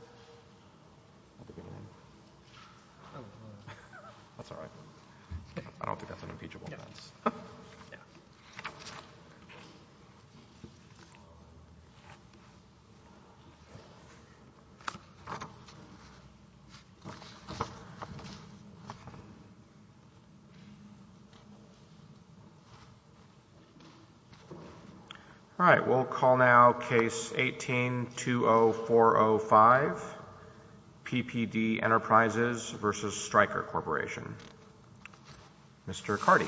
al. All right, we'll call now case 18-20405, PPD Enterprises v. Stryker Corporation. Mr. Carty.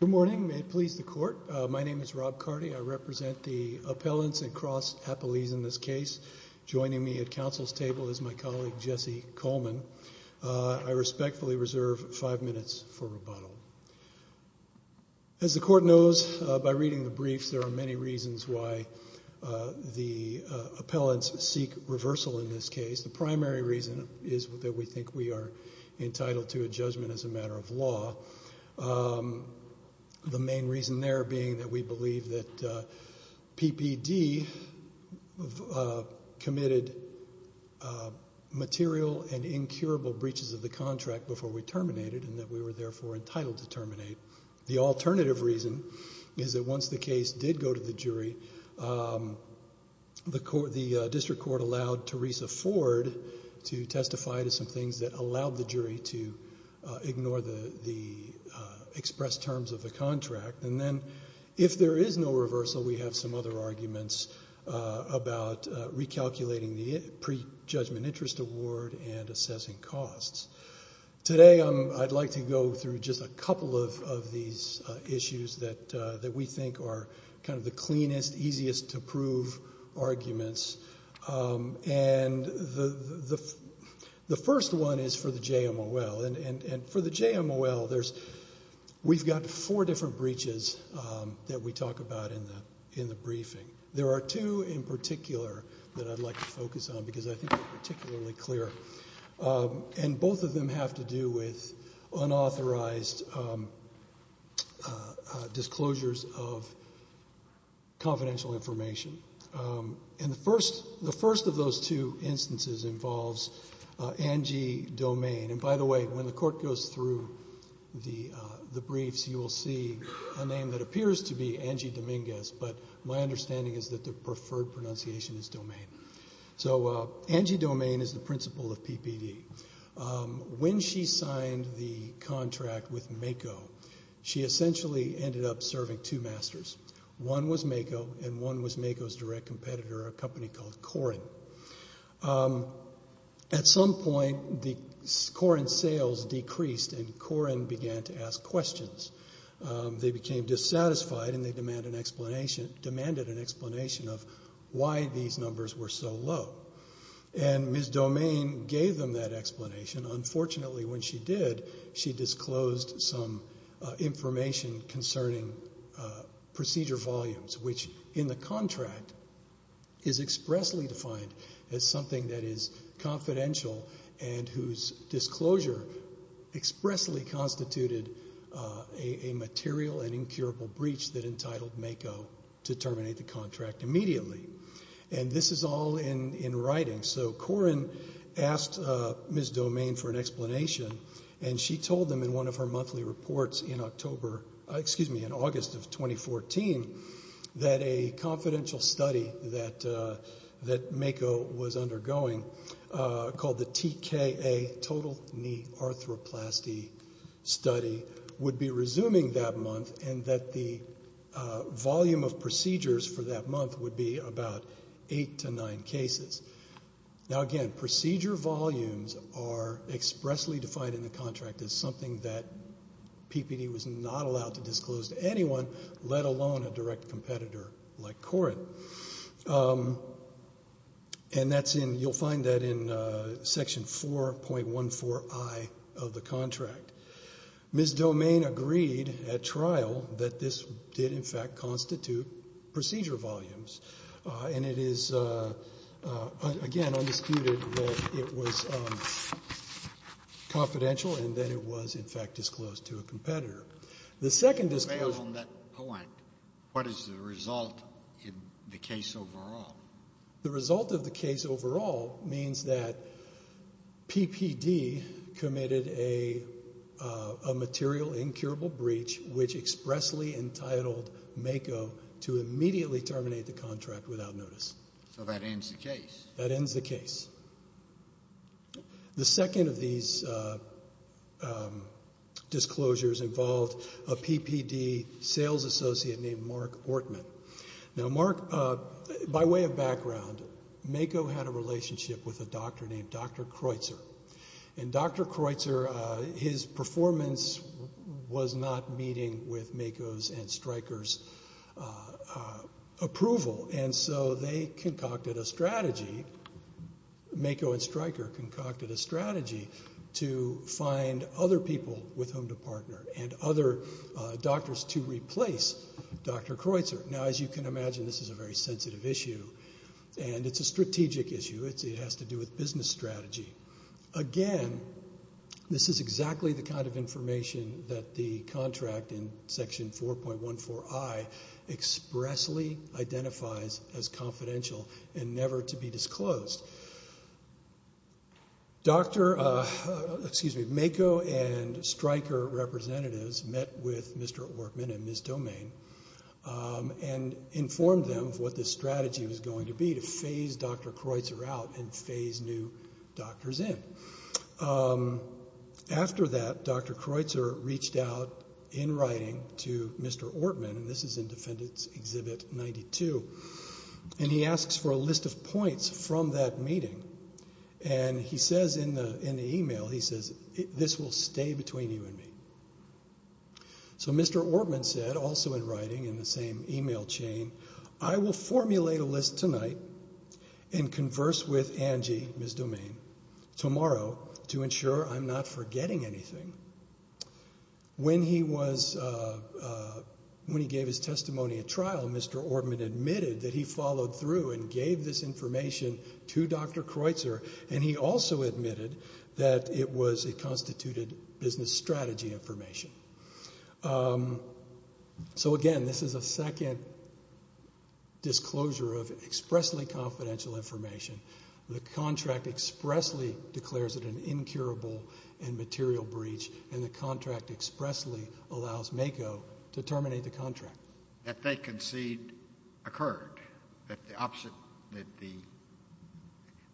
Good morning. May it please the Court, my name is Rob Carty. I represent the appellants and cross-appellees in this case. Joining me at counsel's table is my colleague Jesse Coleman. I respectfully reserve five minutes for rebuttal. As the Court knows by reading the briefs, there are many reasons why the appellants seek reversal in this case. The primary reason is that we think we are entitled to a judgment as a matter of law. The main reason there being that we believe that PPD committed material and incurable breaches of the contract before we terminate it and that we were therefore entitled to terminate. The alternative reason is that once the case did go to the jury, the District Court allowed Teresa Ford to testify to some things that allowed the jury to ignore the expressed terms of the contract. And then if there is no reversal, we have some other arguments about recalculating the pre-judgment interest award and assessing costs. Today, I'd like to go through just a couple of these issues that we think are kind of the cleanest, easiest to prove arguments. And the first one is for the JMOL. And for the JMOL, we've got four different breaches that we talk about in the briefing. There are two in particular that I'd like to focus on because I think they're particularly clear. And both of them have to do with unauthorized disclosures of confidential information. And the first of those two instances involves Angie Domain. And by the way, when the Court goes through the briefs, you will see a name that appears to be Angie Dominguez, but my understanding is that the preferred pronunciation is Domain. So Angie Domain is the principal of PPD. When she signed the contract with MAKO, she essentially ended up serving two masters. One was MAKO and one was MAKO's direct competitor, a company called Corin. At some point, the Corin sales decreased and Corin began to ask questions. They became dissatisfied and they demanded an explanation of why these numbers were so low. And Ms. Domain gave them that explanation. Unfortunately, when she did, she disclosed some information concerning procedure volumes, which in the contract is expressly defined as something that is confidential and whose disclosure expressly constituted a material and incurable breach that entitled MAKO to terminate the contract immediately. And this is all in writing. So Corin asked Ms. Domain for an explanation and she told them in one of her monthly reports in October, excuse me, in August of 2014, that a confidential study that MAKO was undergoing called the TKA, Total Knee Arthroplasty Study, would be resuming that month and that the volume of procedures for that month would be about eight to nine cases. Now again, procedure volumes are expressly defined in the contract as something that PPD was not allowed to disclose to anyone, let alone a direct competitor like Corin. And that's in, you'll find that in section 4.14I of the contract. Ms. Domain agreed at trial that this did in fact constitute procedure volumes. And it is again, undisputed that it was confidential and that it was in fact disclosed to a competitor. The second disclosure. On that point, what is the result in the case overall? The result of the case overall means that PPD committed a material incurable breach which expressly entitled MAKO to immediately terminate the contract without notice. So that ends the case. That ends the case. The second of these disclosures involved a PPD sales associate named Mark Ortman. Now Mark, by way of background, MAKO had a relationship with a doctor named Dr. Kreutzer. And Dr. Kreutzer, his performance was not meeting with MAKO's and Stryker's approval. And so they concocted a strategy, MAKO and Stryker concocted a strategy to find other people with whom to partner and other doctors to replace Dr. Kreutzer. Now as you can imagine, this is a very sensitive issue. And it's a strategic issue. It has to do with business strategy. Again, this is exactly the kind of information that the contract in section 4.14i expressly identifies as confidential and never to be disclosed. Dr. MAKO and Stryker representatives met with Mr. Ortman and Ms. Domain and informed them of what the strategy was going to be to phase Dr. Kreutzer out and phase new doctors in. After that, Dr. Kreutzer reached out in writing to Mr. Ortman, and this is in Defendant's Exhibit 92, and he asks for a list of points from that meeting. And he says in the email, he says, this will stay between you and me. So Mr. Ortman said also in writing in the same email chain, I will formulate a list tonight and converse with Angie, Ms. Domain, tomorrow to ensure I'm not forgetting anything. When he was, when he gave his testimony at trial, Mr. Ortman admitted that he followed through and gave this information to Dr. Kreutzer, and he also admitted that it was a constituted business strategy information. So again, this is a second disclosure of expressly confidential information. The contract expressly declares it an incurable and material breach, and the contract expressly allows MAKO to terminate the contract. That they concede occurred, that the opposite, that the,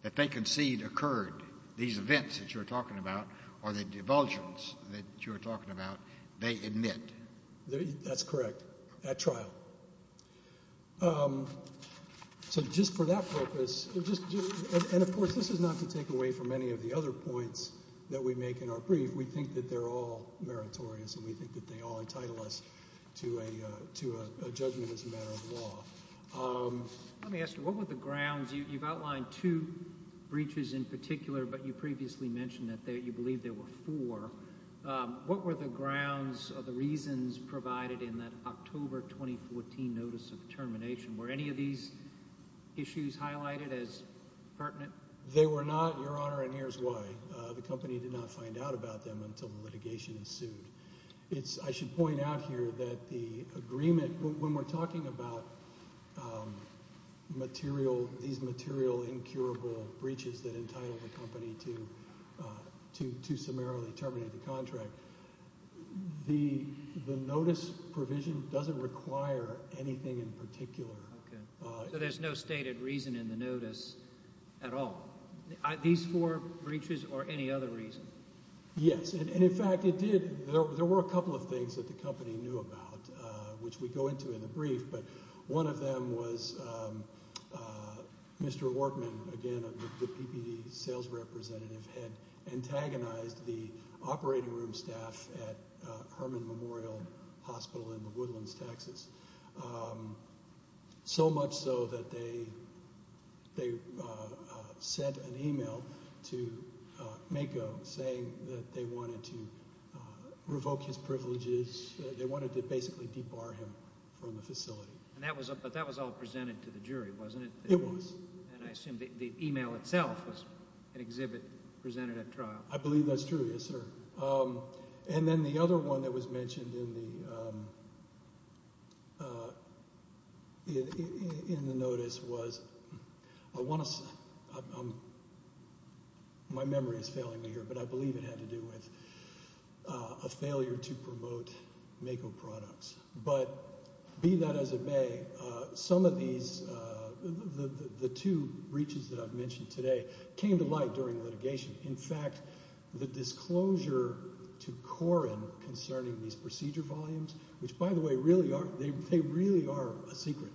that they concede occurred, these events that you're talking about, or the divulgence that you're talking about, they admit. That's correct, at trial. So just for that purpose, and of course, this is not to take away from any of the other points that we make in our brief, we think that they're all meritorious, and we think that they all entitle us to a judgment as a matter of law. Let me ask you, what were the grounds? You've outlined two breaches in particular, but you previously mentioned that you believe there were four. What were the grounds or the reasons provided in that October 2014 notice of termination? Were any of these issues highlighted as pertinent? They were not, Your Honor, and here's why. The company did not find out about them until the litigation is sued. It's, I should point out here that the agreement, when we're talking about material, these material incurable breaches that entitle the company to summarily terminate the contract, the notice provision doesn't require anything in particular. Okay, so there's no stated reason in the notice at all? These four breaches or any other reason? Yes, and in fact, it did. There were a couple of things that the company knew about, which we go into in the brief, but one of them was Mr. Ortman, again, the PPD sales representative, had antagonized the operating room staff at Herman Memorial Hospital in the Woodlands, Texas, so much so that they sent an email to MAKO saying that they wanted to revoke his privileges. They wanted to basically debar him from the facility. But that was all presented to the jury, wasn't it? It was. And I assume the email itself was an exhibit presented at trial. I believe that's true, yes, sir. And then the other one that was mentioned in the notice was, I want to say, my memory is failing me here, but I believe it had to do with a failure to promote MAKO products. But be that as it may, some of these, the two breaches that I've mentioned today, came to light during litigation. In fact, the disclosure to Corrin concerning these procedure volumes, which by the way, really are, they really are a secret.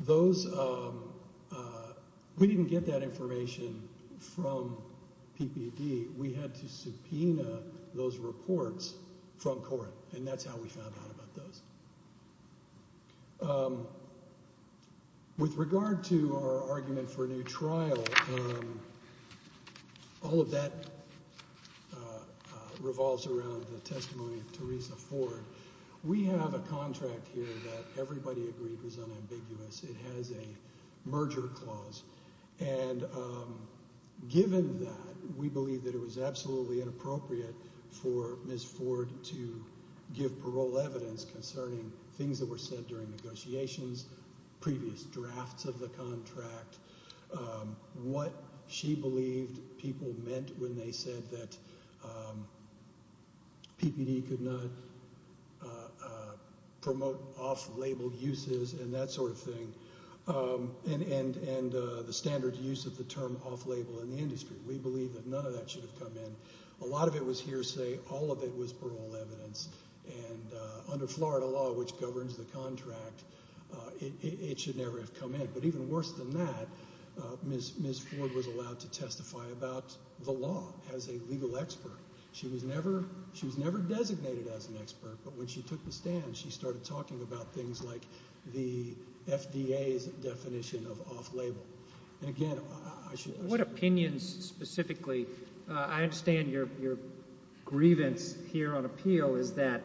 Those, we didn't get that information from PPD. We had to subpoena those reports from Corrin, and that's how we found out about those. With regard to our argument for a new trial, all of that revolves around the testimony of Teresa Ford. We have a contract here that everybody agreed was unambiguous. It has a merger clause. And given that, we believe that it was absolutely inappropriate for Ms. Ford to give parole evidence concerning things that were said during negotiations, previous drafts of the contract, what she believed people meant when they said that PPD could not promote off-label uses and that sort of thing, and the standard use of the term off-label in the industry. We believe that none of that should have come in. A lot of it was hearsay. All of it was parole evidence. And under Florida law, which governs the contract, it should never have come in. But even worse than that, Ms. Ford was allowed to testify about the law as a legal expert. She was never designated as an expert, but when she took the stand, she started talking about things like the FDA's definition of off-label. And again, I should... What opinions specifically... I understand your grievance here on appeal is that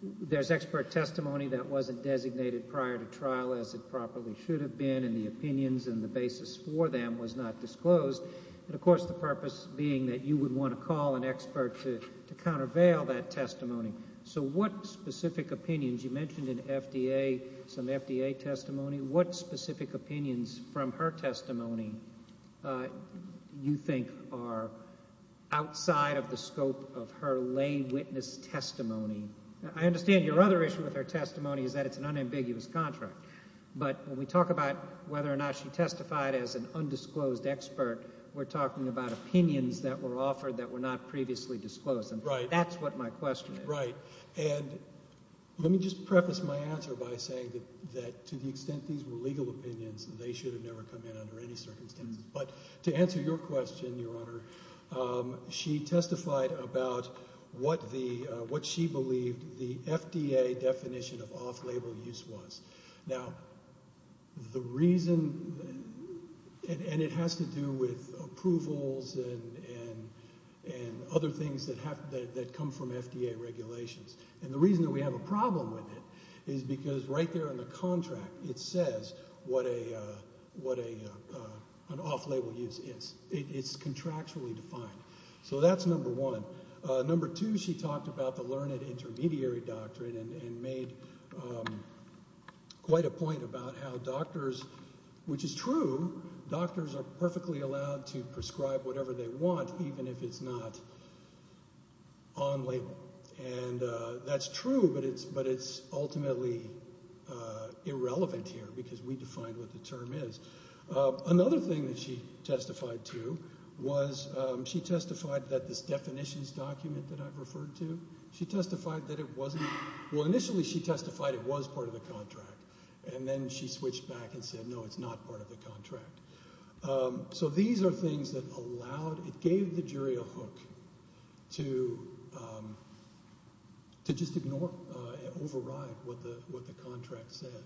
there's expert testimony that wasn't designated prior to trial as it properly should have been, and the opinions and the basis for them was not disclosed, and of course, the purpose being that you would want to call an expert to countervail that testimony. So what specific opinions... You mentioned an FDA, some FDA testimony. What specific opinions from her testimony do you think are outside of the scope of her lay witness testimony? I understand your other issue with her testimony is that it's an unambiguous contract, but when we talk about whether or not she testified as an undisclosed expert, we're talking about opinions that were offered that were not previously disclosed. That's what my question is. Right. And let me just preface my answer by saying that to the extent these were legal opinions, they should have never come in under any circumstances. But to answer your question, Your Honor, she testified about what she believed the FDA definition of off-label use was. Now, the reason... And it has to do with approvals and other things that come from FDA regulations. And the reason that we have a problem with it is because right there in the contract, it says what an off-label use is. It's contractually defined. So that's number one. Number two, she talked about the learned intermediary doctrine and made quite a point about how she's true. Doctors are perfectly allowed to prescribe whatever they want, even if it's not on-label. And that's true, but it's ultimately irrelevant here because we defined what the term is. Another thing that she testified to was she testified that this definitions document that I've referred to, she testified that it wasn't... Well, initially she testified it was part of the contract. And then she switched back and said, no, it's not part of the contract. So these are things that allowed... It gave the jury a hook to just ignore, override what the contract said.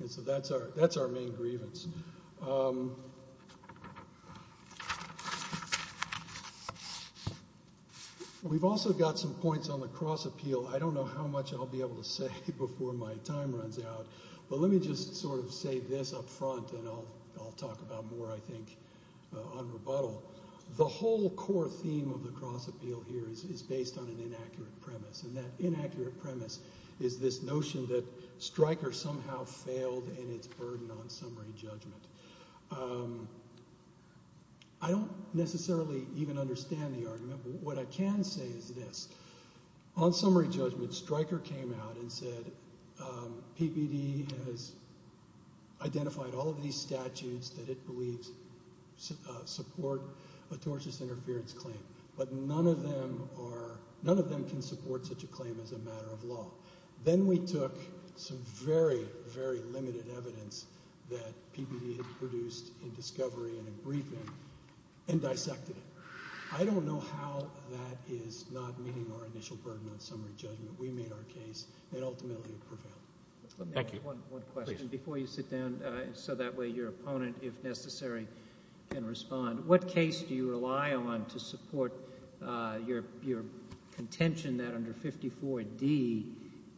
And so that's our main grievance. We've also got some points on the cross-appeal. I don't know how much I'll be able to say before my time runs out, but let me just sort of say this up front and I'll talk about more, I think, on rebuttal. The whole core theme of the cross-appeal here is based on an inaccurate premise. And that inaccurate premise is this notion that Stryker somehow failed in its burden on summary judgment. I don't necessarily even understand the argument, but what I can say is this. On summary judgment, Stryker came out and said, PPD has identified all of these statutes that it believes support a tortious interference claim, but none of them are... None of them can support such a claim as a matter of law. Then we took some very, very limited evidence that PPD had produced in discovery and a briefing and dissected it. I don't know how that is not meeting our initial burden on summary judgment. We made our case and ultimately it prevailed. Thank you. One question before you sit down so that way your opponent, if necessary, can respond. What case do you rely on to support your contention that under 54D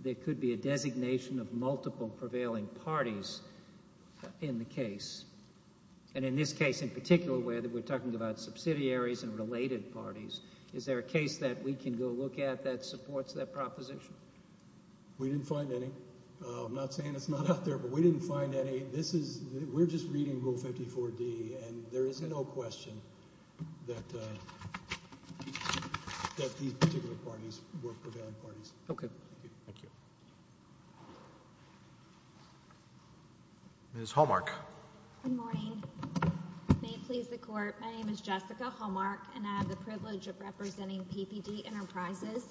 there could be a designation of multiple prevailing parties in the case? And in this case in particular where we're talking about subsidiaries and related parties, is there a case that we can go look at that supports that proposition? We didn't find any. I'm not saying it's not out there, but we didn't find any. This is... We're just reading Rule 54D and there is no question that these particular parties were prevailing parties. Okay. Thank you. Ms. Hallmark. Good morning. May it please the Court, my name is Jessica Hallmark and I have the privilege of representing PPD Enterprises,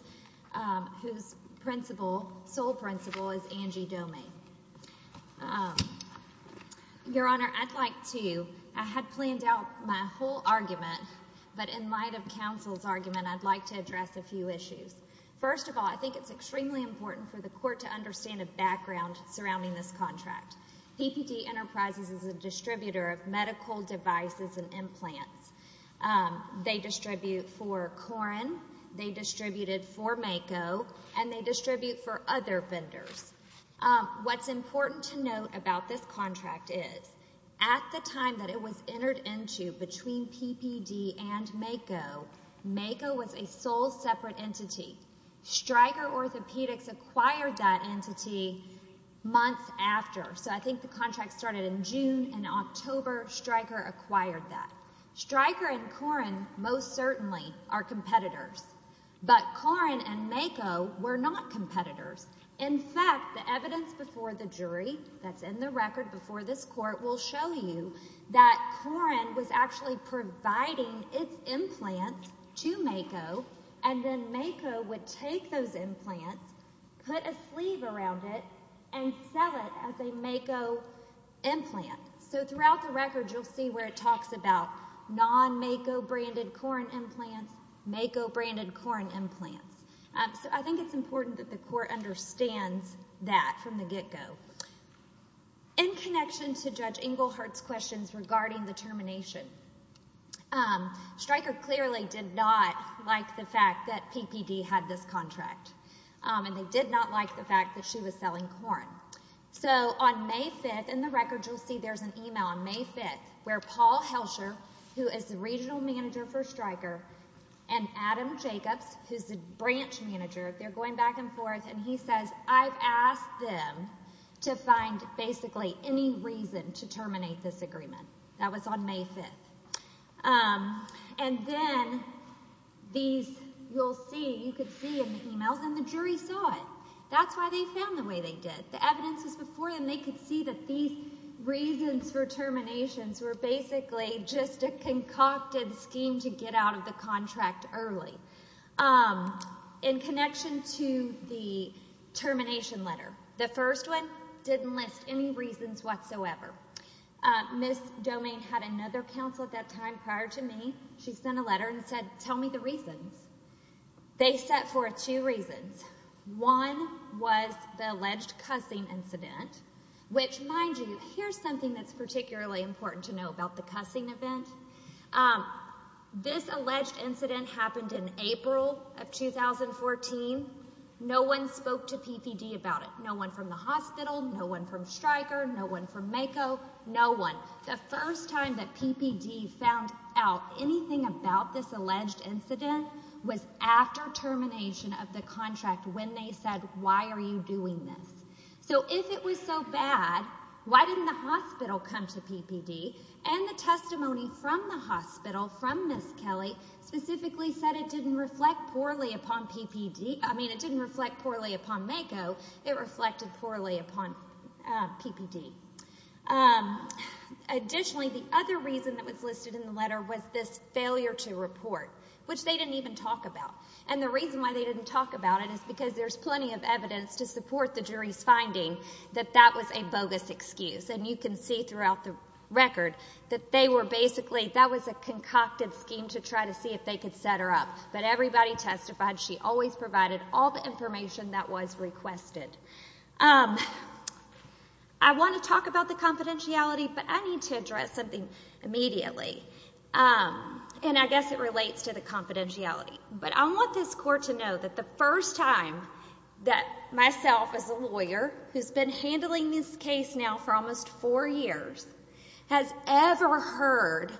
whose principal, sole principal, is Angie Domey. Your Honor, I'd like to... I had planned out my whole argument, but in light of counsel's argument I'd like to address a few issues. First of all, I think it's extremely important for the Court to understand the background surrounding this contract. PPD Enterprises is a distributor of medical devices and implants. They distribute for Corrin, they distributed for Mako, and they distribute for other vendors. What's important to note about this contract is at the time that it was entered into between PPD and Mako, Mako was a sole separate entity. Stryker Orthopedics acquired that entity months after, so I think the contract started in June and in October Stryker acquired that. Stryker and Corrin most certainly are competitors, but Corrin and Mako were not competitors. In fact, the evidence before the jury that's in the record before this Court will show you that Corrin was actually providing its implants to Mako, and then Mako would take those implants, put a sleeve around it, and sell it as a Mako implant. So throughout the record you'll see where it talks about non-Mako branded Corrin implants, Mako branded Corrin implants. I think it's important that the Court understands that from the get-go. In connection to Judge Engelhardt's questions regarding the termination, Stryker clearly did not like the fact that PPD had this contract, and they did not like the fact that she was selling Corrin. So on May 5th, in the record you'll see there's an email on May 5th where Paul Helcher, who is the regional manager for Stryker, and Adam Jacobs, who's the branch manager, they're asked them to find basically any reason to terminate this agreement. That was on May 5th. And then these, you'll see, you could see in the emails, and the jury saw it. That's why they found the way they did. The evidence was before them. They could see that these reasons for terminations were basically just a concocted scheme to get out of the contract early. In connection to the termination letter, the first one didn't list any reasons whatsoever. Ms. Domain had another counsel at that time prior to me. She sent a letter and said, tell me the reasons. They set forth two reasons. One was the alleged cussing incident, which, mind you, here's something that's particularly important to know about the cussing event. This alleged incident happened in April of 2014. No one spoke to PPD about it. No one from the hospital, no one from Stryker, no one from MAKO, no one. The first time that PPD found out anything about this alleged incident was after termination of the contract when they said, why are you doing this? So if it was so bad, why didn't the hospital come to PPD? And the testimony from the hospital, from Ms. Kelly, specifically said it didn't reflect poorly upon PPD, I mean, it didn't reflect poorly upon MAKO, it reflected poorly upon PPD. Additionally, the other reason that was listed in the letter was this failure to report, which they didn't even talk about. And the reason why they didn't talk about it is because there's plenty of evidence to support this finding that that was a bogus excuse, and you can see throughout the record that they were basically, that was a concocted scheme to try to see if they could set her up. But everybody testified she always provided all the information that was requested. I want to talk about the confidentiality, but I need to address something immediately. And I guess it relates to the confidentiality. But I want this court to know that the first time that myself as a lawyer, who's been handling this case now for almost four years, has ever heard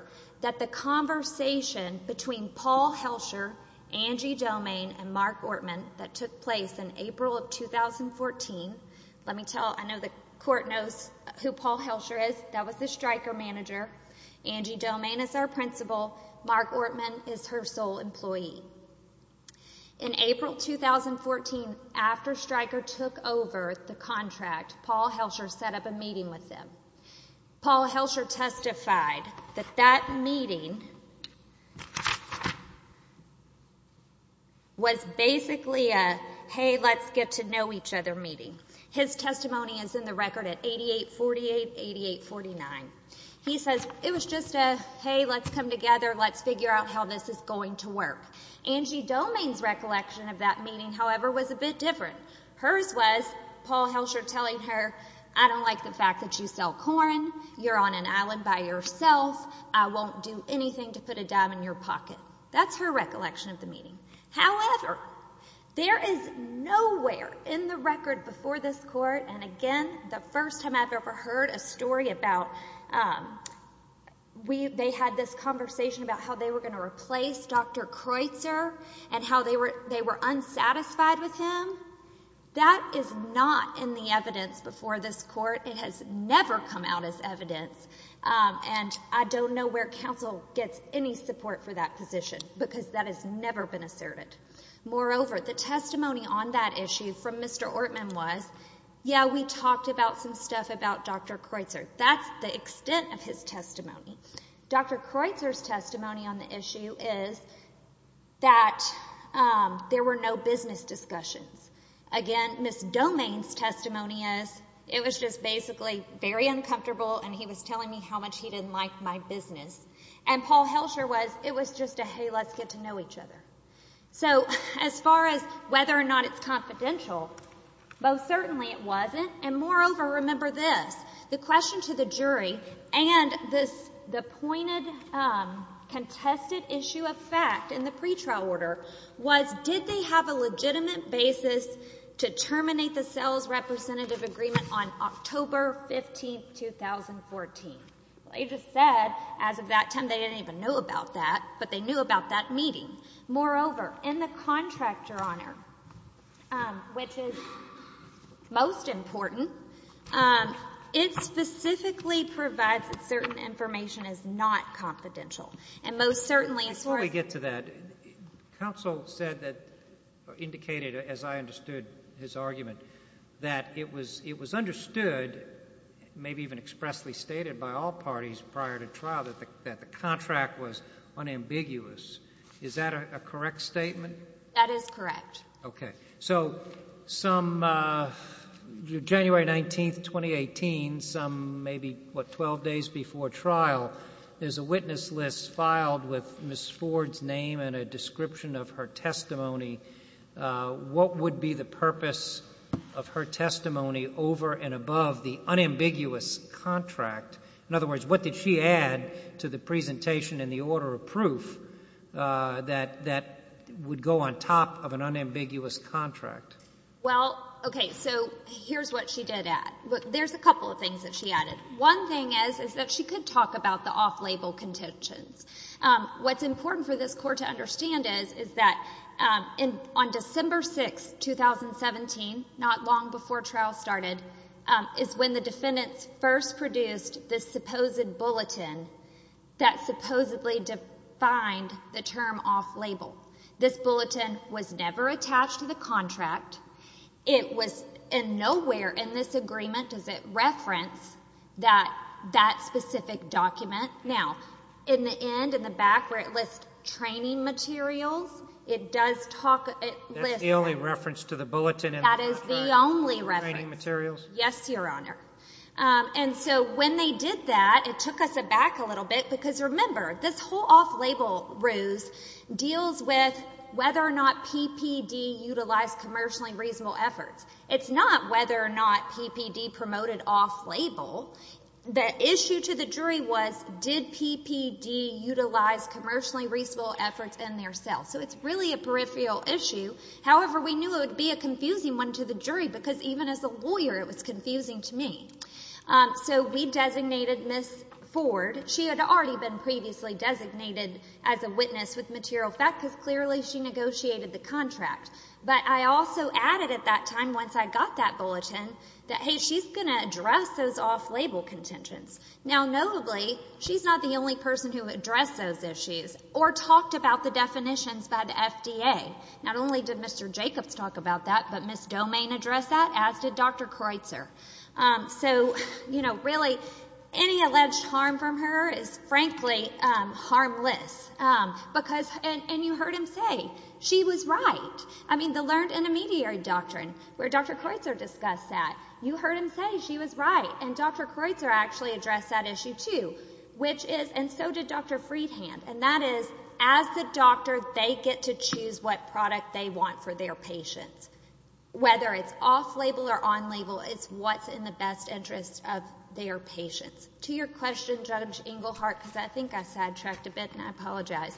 that the conversation between Paul Helscher, Angie Domain, and Mark Ortman that took place in April of 2014, let me tell, I know the court knows who Paul Helscher is, that was the striker manager, Angie Domain is our principal, Mark Ortman is her sole employee. In April 2014, after striker took over the contract, Paul Helscher set up a meeting with them. Paul Helscher testified that that meeting was basically a, hey, let's get to know each other meeting. His testimony is in the record at 8848-8849. He says, it was just a, hey, let's come together, let's figure out how this is going to work. Angie Domain's recollection of that meeting, however, was a bit different. Hers was, Paul Helscher telling her, I don't like the fact that you sell corn, you're on an island by yourself, I won't do anything to put a dime in your pocket. That's her recollection of the meeting. However, there is nowhere in the record before this court, and again, the first time I've ever heard a story about, they had this conversation about how they were going to replace Dr. Kreutzer, and how they were unsatisfied with him. That is not in the evidence before this court, it has never come out as evidence, and I don't know where counsel gets any support for that position, because that has never been asserted. Moreover, the testimony on that issue from Mr. Ortman was, yeah, we talked about some stuff about Dr. Kreutzer, that's the extent of his testimony. Dr. Kreutzer's testimony on the issue is that there were no business discussions. Again, Ms. Domain's testimony is, it was just basically very uncomfortable, and he was telling me how much he didn't like my business. And Paul Helscher was, it was just a, hey, let's get to know each other. So as far as whether or not it's confidential, most certainly it wasn't, and moreover, remember this, the question to the jury, and this, the pointed contested issue of fact in the pretrial order was, did they have a legitimate basis to terminate the sales representative agreement on October 15th, 2014? They just said, as of that time, they didn't even know about that, but they knew about that meeting. Moreover, in the contractor honor, which is most important, it specifically provides that certain information is not confidential, and most certainly as far as... Before we get to that, counsel said that, indicated, as I understood his argument, that it was understood, maybe even expressly stated by all parties prior to trial, that the contract was unambiguous. Is that a correct statement? That is correct. Okay. So, some, January 19th, 2018, some, maybe, what, 12 days before trial, there's a witness list filed with Ms. Ford's name and a description of her testimony. What would be the purpose of her testimony over and above the unambiguous contract? In other words, what did she add to the presentation in the order of proof that would go on top of an unambiguous contract? Well, okay, so here's what she did add. There's a couple of things that she added. One thing is, is that she could talk about the off-label contentions. What's important for this Court to understand is, is that on December 6th, 2017, not long before trial started, is when the defendants first produced this supposed bulletin that supposedly defined the term off-label. This bulletin was never attached to the contract. It was, and nowhere in this agreement does it reference that, that specific document. Now, in the end, in the back, where it lists training materials, it does talk, it lists... That's the only reference to the bulletin in the contract. That is the only reference. Training materials? Yes, Your Honor. And so when they did that, it took us aback a little bit, because remember, this whole off-label ruse deals with whether or not PPD utilized commercially reasonable efforts. It's not whether or not PPD promoted off-label. The issue to the jury was, did PPD utilize commercially reasonable efforts in their sale? So it's really a peripheral issue. However, we knew it would be a confusing one to the jury, because even as a lawyer, it was confusing to me. So we designated Ms. Ford. She had already been previously designated as a witness with material fact, because clearly she negotiated the contract. But I also added at that time, once I got that bulletin, that, hey, she's going to address those off-label contentions. Now notably, she's not the only person who addressed those issues, or talked about the definitions by the FDA. Not only did Mr. Jacobs talk about that, but Ms. Domain addressed that, as did Dr. Kreutzer. So really, any alleged harm from her is frankly harmless, because, and you heard him say, she was right. I mean, the learned intermediary doctrine, where Dr. Kreutzer discussed that. You heard him say she was right, and Dr. Kreutzer actually addressed that issue too, which is, and so did Dr. Friedhand. And that is, as the doctor, they get to choose what product they want for their patients. Whether it's off-label or on-label, it's what's in the best interest of their patients. To your question, Judge Engelhardt, because I think I sidetracked a bit, and I apologize.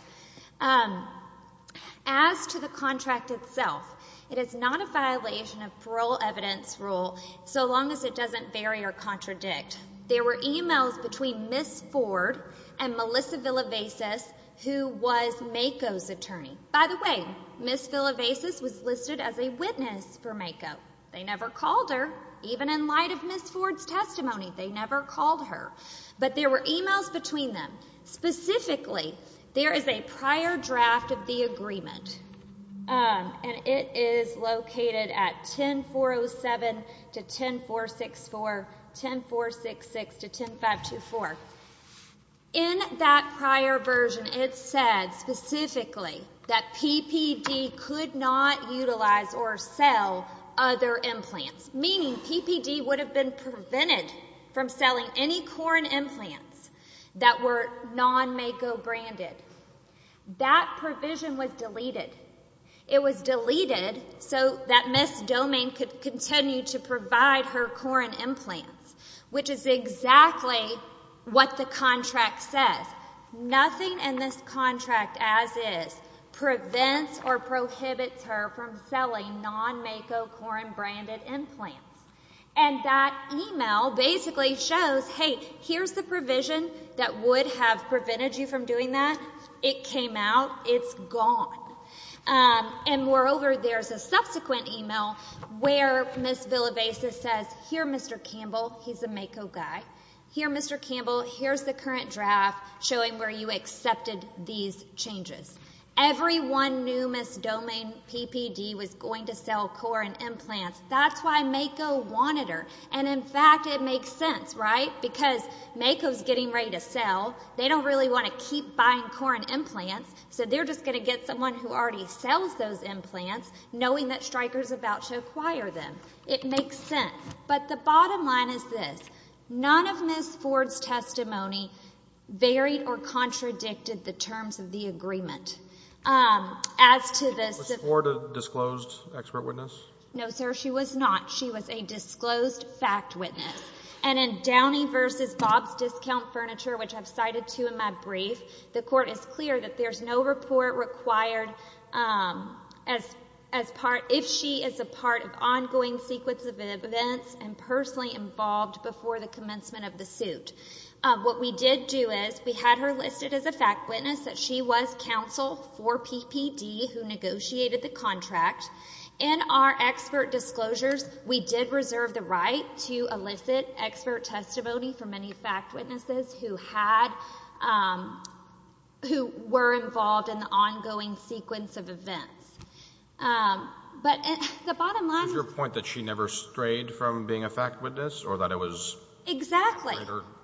As to the contract itself, it is not a violation of parole evidence rule, so long as it doesn't vary or contradict. There were emails between Ms. Ford and Melissa Villavesas, who was MAKO's attorney. By the way, Ms. Villavesas was listed as a witness for MAKO. They never called her, even in light of Ms. Ford's testimony. They never called her. But there were emails between them. Specifically, there is a prior draft of the agreement, and it is located at 10407 to 10464, 10466 to 10524. In that prior version, it said specifically that PPD could not utilize or sell other implants, meaning PPD would have been prevented from selling any Corrin implants that were non-MAKO-branded. That provision was deleted. It was deleted so that Ms. Domingue could continue to provide her Corrin implants, which is exactly what the contract says. Nothing in this contract, as is, prevents or prohibits her from selling non-MAKO Corrin-branded implants. And that email basically shows, hey, here's the provision that would have prevented you from doing that. It came out. It's gone. And moreover, there's a subsequent email where Ms. Villavesas says, here, Mr. Campbell, he's a MAKO guy, here, Mr. Campbell, here's the current draft showing where you accepted these changes. Everyone knew Ms. Domingue PPD was going to sell Corrin implants. That's why MAKO wanted her. And in fact, it makes sense, right? Because MAKO's getting ready to sell. They don't really want to keep buying Corrin implants. So they're just going to get someone who already sells those implants, knowing that Stryker's about to acquire them. It makes sense. But the bottom line is this, none of Ms. Ford's testimony varied or contradicted the terms of the agreement. As to this— Was Ms. Ford a disclosed expert witness? No, sir. She was not. She was a disclosed fact witness. And in Downey v. Bob's Discount Furniture, which I've cited to in my brief, the court is clear that there's no report required if she is a part of ongoing sequence of events and personally involved before the commencement of the suit. What we did do is we had her listed as a fact witness that she was counsel for PPD who negotiated the contract. In our expert disclosures, we did reserve the right to elicit expert testimony for many fact witnesses who had—who were involved in the ongoing sequence of events. But the bottom line— Is your point that she never strayed from being a fact witness or that it was greater— Exactly.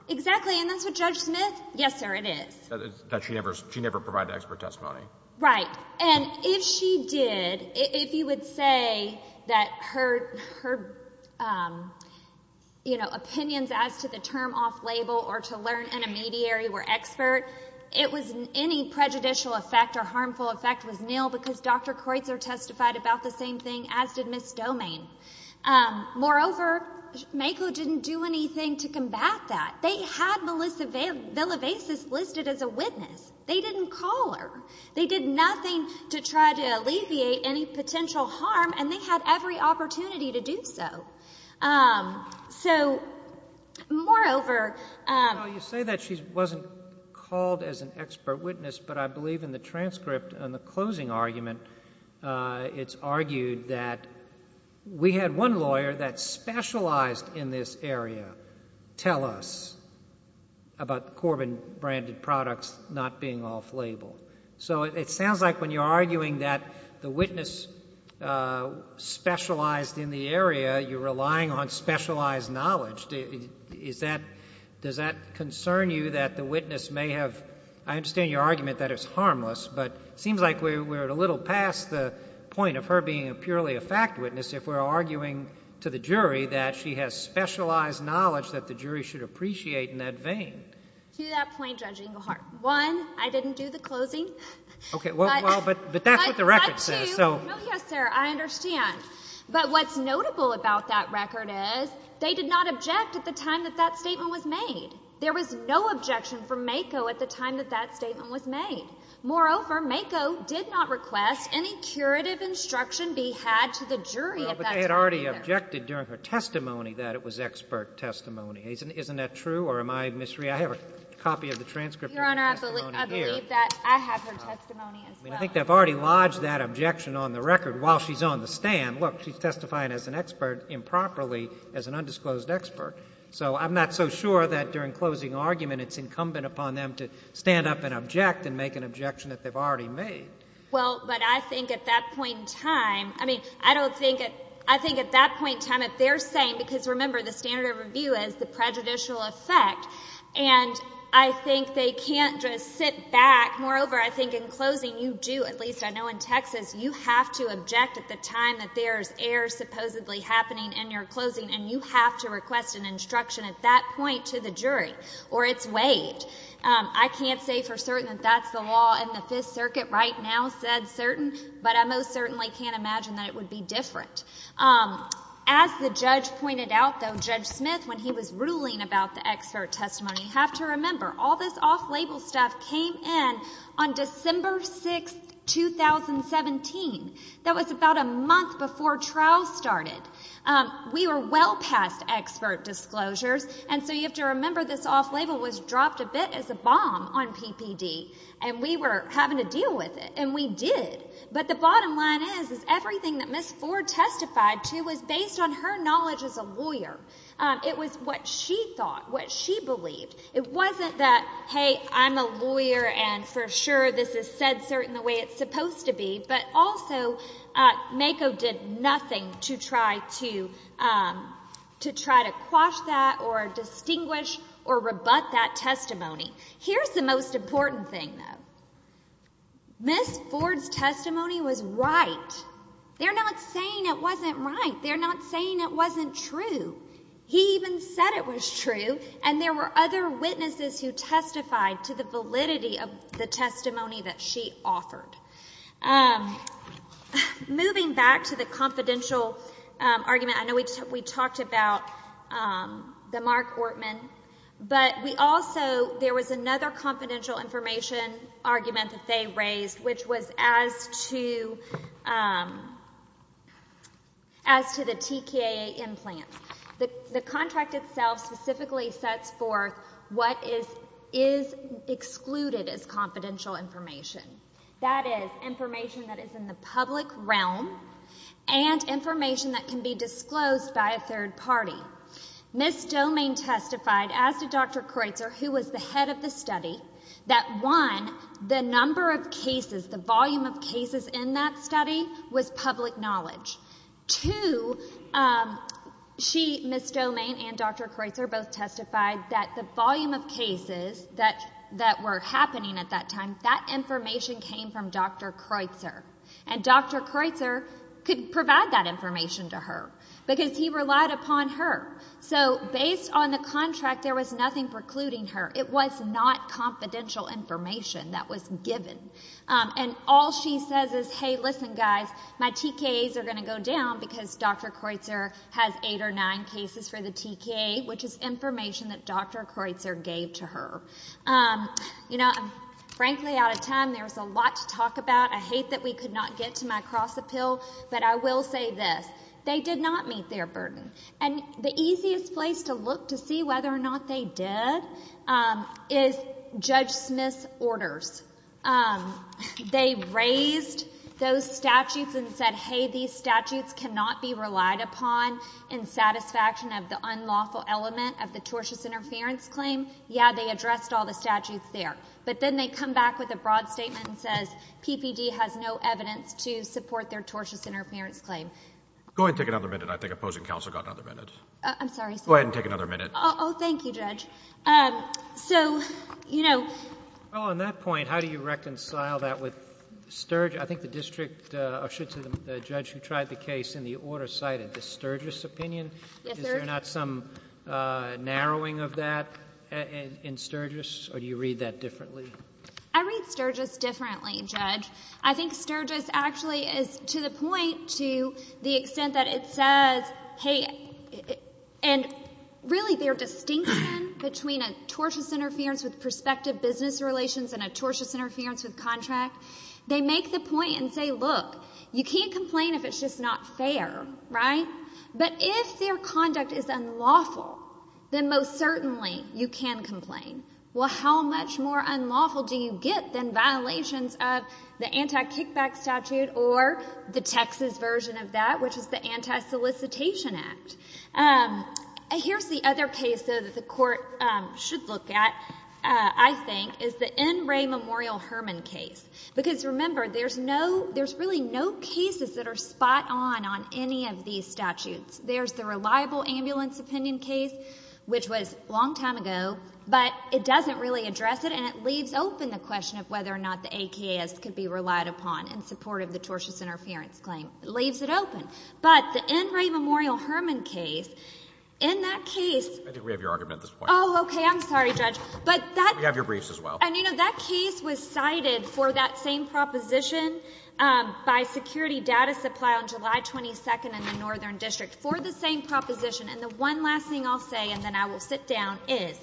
Exactly. And that's what Judge Smith—yes, sir, it is. That she never provided expert testimony. Right. And if she did, if you would say that her, you know, opinions as to the term off-label or to learn in a mediary were expert, it was—any prejudicial effect or harmful effect was nil because Dr. Kreutzer testified about the same thing as did Ms. Domain. Moreover, MAKO didn't do anything to combat that. They had Melissa Villavesas listed as a witness. They didn't call her. They did nothing to try to alleviate any potential harm, and they had every opportunity to do so. So, moreover— Well, you say that she wasn't called as an expert witness, but I believe in the transcript and the closing argument, it's argued that we had one lawyer that specialized in this So it sounds like when you're arguing that the witness specialized in the area, you're relying on specialized knowledge. Is that—does that concern you that the witness may have—I understand your argument that it's harmless, but it seems like we're a little past the point of her being purely a fact witness if we're arguing to the jury that she has specialized knowledge that the jury should appreciate in that vein. To that point, Judge Engelhardt, one, I didn't do that. I didn't do the closing. Okay. Well, but that's what the record says. So— No. Yes, sir. I understand. But what's notable about that record is they did not object at the time that that statement was made. There was no objection from MAKO at the time that that statement was made. Moreover, MAKO did not request any curative instruction be had to the jury at that time. Well, but they had already objected during her testimony that it was expert testimony. Isn't that true? Or am I misreading? I have a copy of the transcript— Your Honor, I believe— I have her testimony as well. I mean, I think they've already lodged that objection on the record while she's on the stand. Look, she's testifying as an expert improperly as an undisclosed expert. So I'm not so sure that during closing argument it's incumbent upon them to stand up and object and make an objection that they've already made. Well, but I think at that point in time—I mean, I don't think—I think at that point in time if they're saying—because remember, the standard of review is the prejudicial effect, and I think they can't just sit back. Moreover, I think in closing you do, at least I know in Texas, you have to object at the time that there's error supposedly happening in your closing, and you have to request an instruction at that point to the jury, or it's waived. I can't say for certain that that's the law in the Fifth Circuit right now said certain, but I most certainly can't imagine that it would be different. As the judge pointed out, though, Judge Smith, when he was ruling about the expert testimony, you have to remember all this off-label stuff came in on December 6, 2017. That was about a month before trials started. We were well past expert disclosures, and so you have to remember this off-label was dropped a bit as a bomb on PPD, and we were having to deal with it, and we did. But the bottom line is, is everything that Ms. Ford testified to was based on her knowledge as a lawyer. It was what she thought, what she believed. It wasn't that, hey, I'm a lawyer, and for sure this is said certain the way it's supposed to be, but also MAKO did nothing to try to quash that or distinguish or rebut that testimony. Here's the most important thing, though. Ms. Ford's testimony was right. They're not saying it wasn't right. They're not saying it wasn't true. He even said it was true, and there were other witnesses who testified to the validity of the testimony that she offered. Moving back to the confidential argument, I know we talked about the Mark Ortman, but we also, there was another confidential information argument that they raised, which was as to the TKA implants. The contract itself specifically sets forth what is excluded as confidential information. That is, information that is in the public realm and information that can be disclosed by a third party. Ms. Domain testified as to Dr. Kreutzer, who was the head of the study, that one, the number of cases, the volume of cases in that study was public knowledge. Two, she, Ms. Domain and Dr. Kreutzer both testified that the volume of cases that were happening at that time, that information came from Dr. Kreutzer, and Dr. Kreutzer could not get to her. Based on the contract, there was nothing precluding her. It was not confidential information that was given. All she says is, hey, listen guys, my TKAs are going to go down because Dr. Kreutzer has eight or nine cases for the TKA, which is information that Dr. Kreutzer gave to her. Frankly out of time, there's a lot to talk about. I hate that we could not get to my cross-appeal, but I will say this. They did not meet their burden. The easiest place to look to see whether or not they did is Judge Smith's orders. They raised those statutes and said, hey, these statutes cannot be relied upon in satisfaction of the unlawful element of the tortious interference claim. Yeah, they addressed all the statutes there, but then they come back with a broad statement that says PPD has no evidence to support their tortious interference claim. Go ahead and take another minute. I think opposing counsel got another minute. I'm sorry, sir. Go ahead and take another minute. Oh, thank you, Judge. So, you know... Well, on that point, how do you reconcile that with Sturgis? I think the district, or should I say the judge who tried the case in the order cited the Sturgis opinion. Yes, sir. Is there not some narrowing of that in Sturgis, or do you read that differently? I read Sturgis differently, Judge. I think Sturgis actually is to the point to the extent that it says, hey... and really their distinction between a tortious interference with prospective business relations and a tortious interference with contract, they make the point and say, look, you can't complain if it's just not fair, right? But if their conduct is unlawful, then most certainly you can complain. Well, how much more unlawful do you get than violations of the anti-kickback statute or the Texas version of that, which is the Anti-Solicitation Act? Here's the other case, though, that the court should look at, I think, is the N. Ray Memorial Hermann case. Because, remember, there's really no cases that are spot on on any of these statutes. There's the reliable ambulance opinion case, which was a long time ago, but it doesn't really address it and it leaves open the question of whether or not the AKS could be relied upon in support of the tortious interference claim. It leaves it open. But the N. Ray Memorial Hermann case, in that case... I think we have your argument at this point. Oh, okay. I'm sorry, Judge. But that... We have your briefs as well. And, you know, that case was cited for that same proposition by security data supply on for the same proposition. And the one last thing I'll say, and then I will sit down, is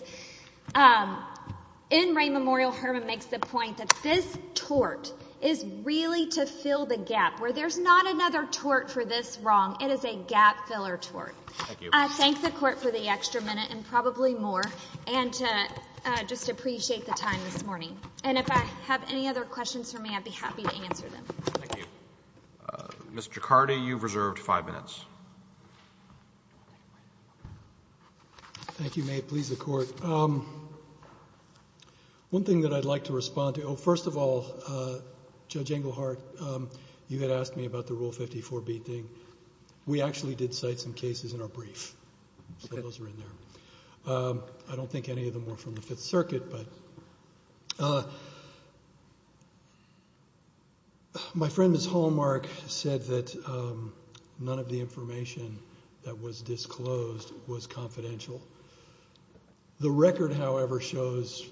N. Ray Memorial Hermann makes the point that this tort is really to fill the gap, where there's not another tort for this wrong. It is a gap-filler tort. Thank you. I thank the Court for the extra minute, and probably more, and just appreciate the time this morning. And if I have any other questions for me, I'd be happy to answer them. Thank you. Mr. Ciccardi, you've reserved five minutes. Thank you, Mayor. Please, the Court. One thing that I'd like to respond to... Oh, first of all, Judge Englehart, you had asked me about the Rule 54b thing. We actually did cite some cases in our brief. So those are in there. I don't think any of them were from the Fifth Circuit, but... My friend, Ms. Hallmark, said that none of the information that was disclosed was confidential. The record, however, shows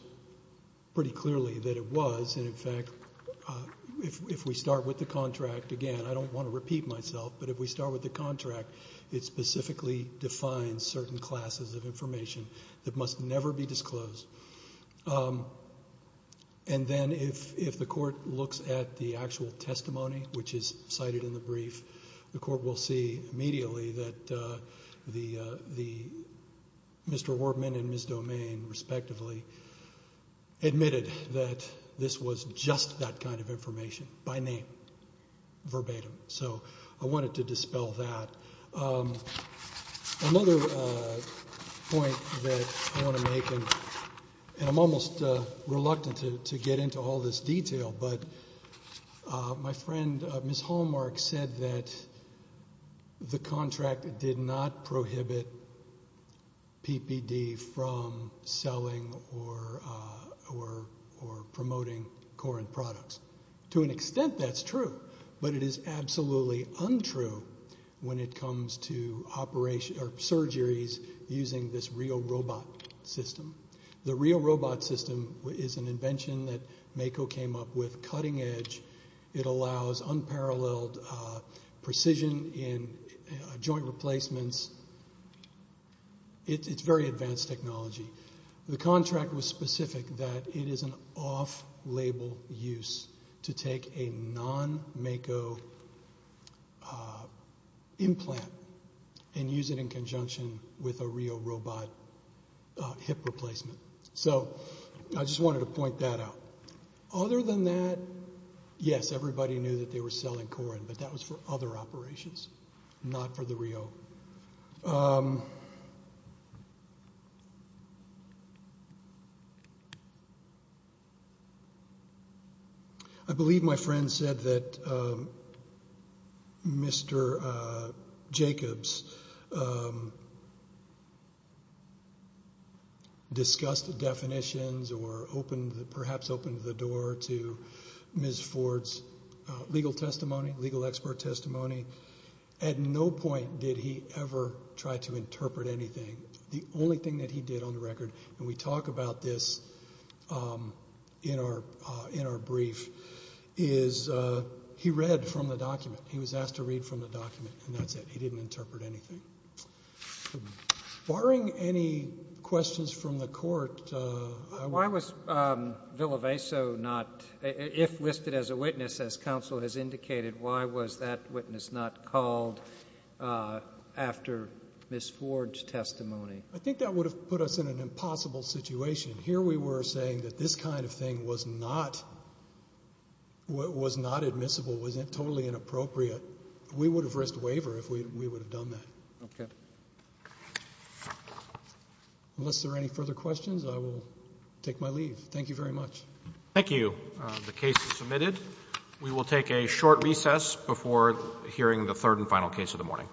pretty clearly that it was, and in fact, if we start with the contract, again, I don't want to repeat myself, but if we start with the contract, it specifically defines certain classes of information that must never be disclosed. And then if the Court looks at the actual testimony, which is cited in the brief, the Court will see immediately that Mr. Wartman and Ms. Domain, respectively, admitted that this was just that kind of information by name, verbatim. So I wanted to dispel that. Another point that I want to make, and I'm almost reluctant to get into all this detail, but my friend, Ms. Hallmark, said that the contract did not prohibit PPD from selling or promoting Corinth products. To an extent, that's true, but it is absolutely untrue when it comes to surgeries using this real robot system. The real robot system is an invention that MAKO came up with, cutting edge. It allows unparalleled precision in joint replacements. It's very advanced technology. The contract was specific that it is an off-label use to take a non-MAKO implant and use it in conjunction with a real robot hip replacement. So I just wanted to point that out. Other than that, yes, everybody knew that they were selling Corinth, but that was for other operations, not for the real. I believe my friend said that Mr. Jacobs discussed the definitions or perhaps opened the door to Ms. Ford's legal testimony, legal expert testimony. At no point did he ever try to interpret anything. The only thing that he did on the record, and we talk about this in our brief, is he read from the document. He was asked to read from the document, and that's it. He didn't interpret anything. Barring any questions from the court, I would... Why was Villaveso not, if listed as a witness, as counsel has indicated, why was that witness not called after Ms. Ford's testimony? I think that would have put us in an impossible situation. Here we were saying that this kind of thing was not admissible, was totally inappropriate. We would have risked waiver if we would have done that. Okay. Unless there are any further questions, I will take my leave. Thank you very much. Thank you. The case is submitted. We will take a short recess before hearing the third and final case of the morning.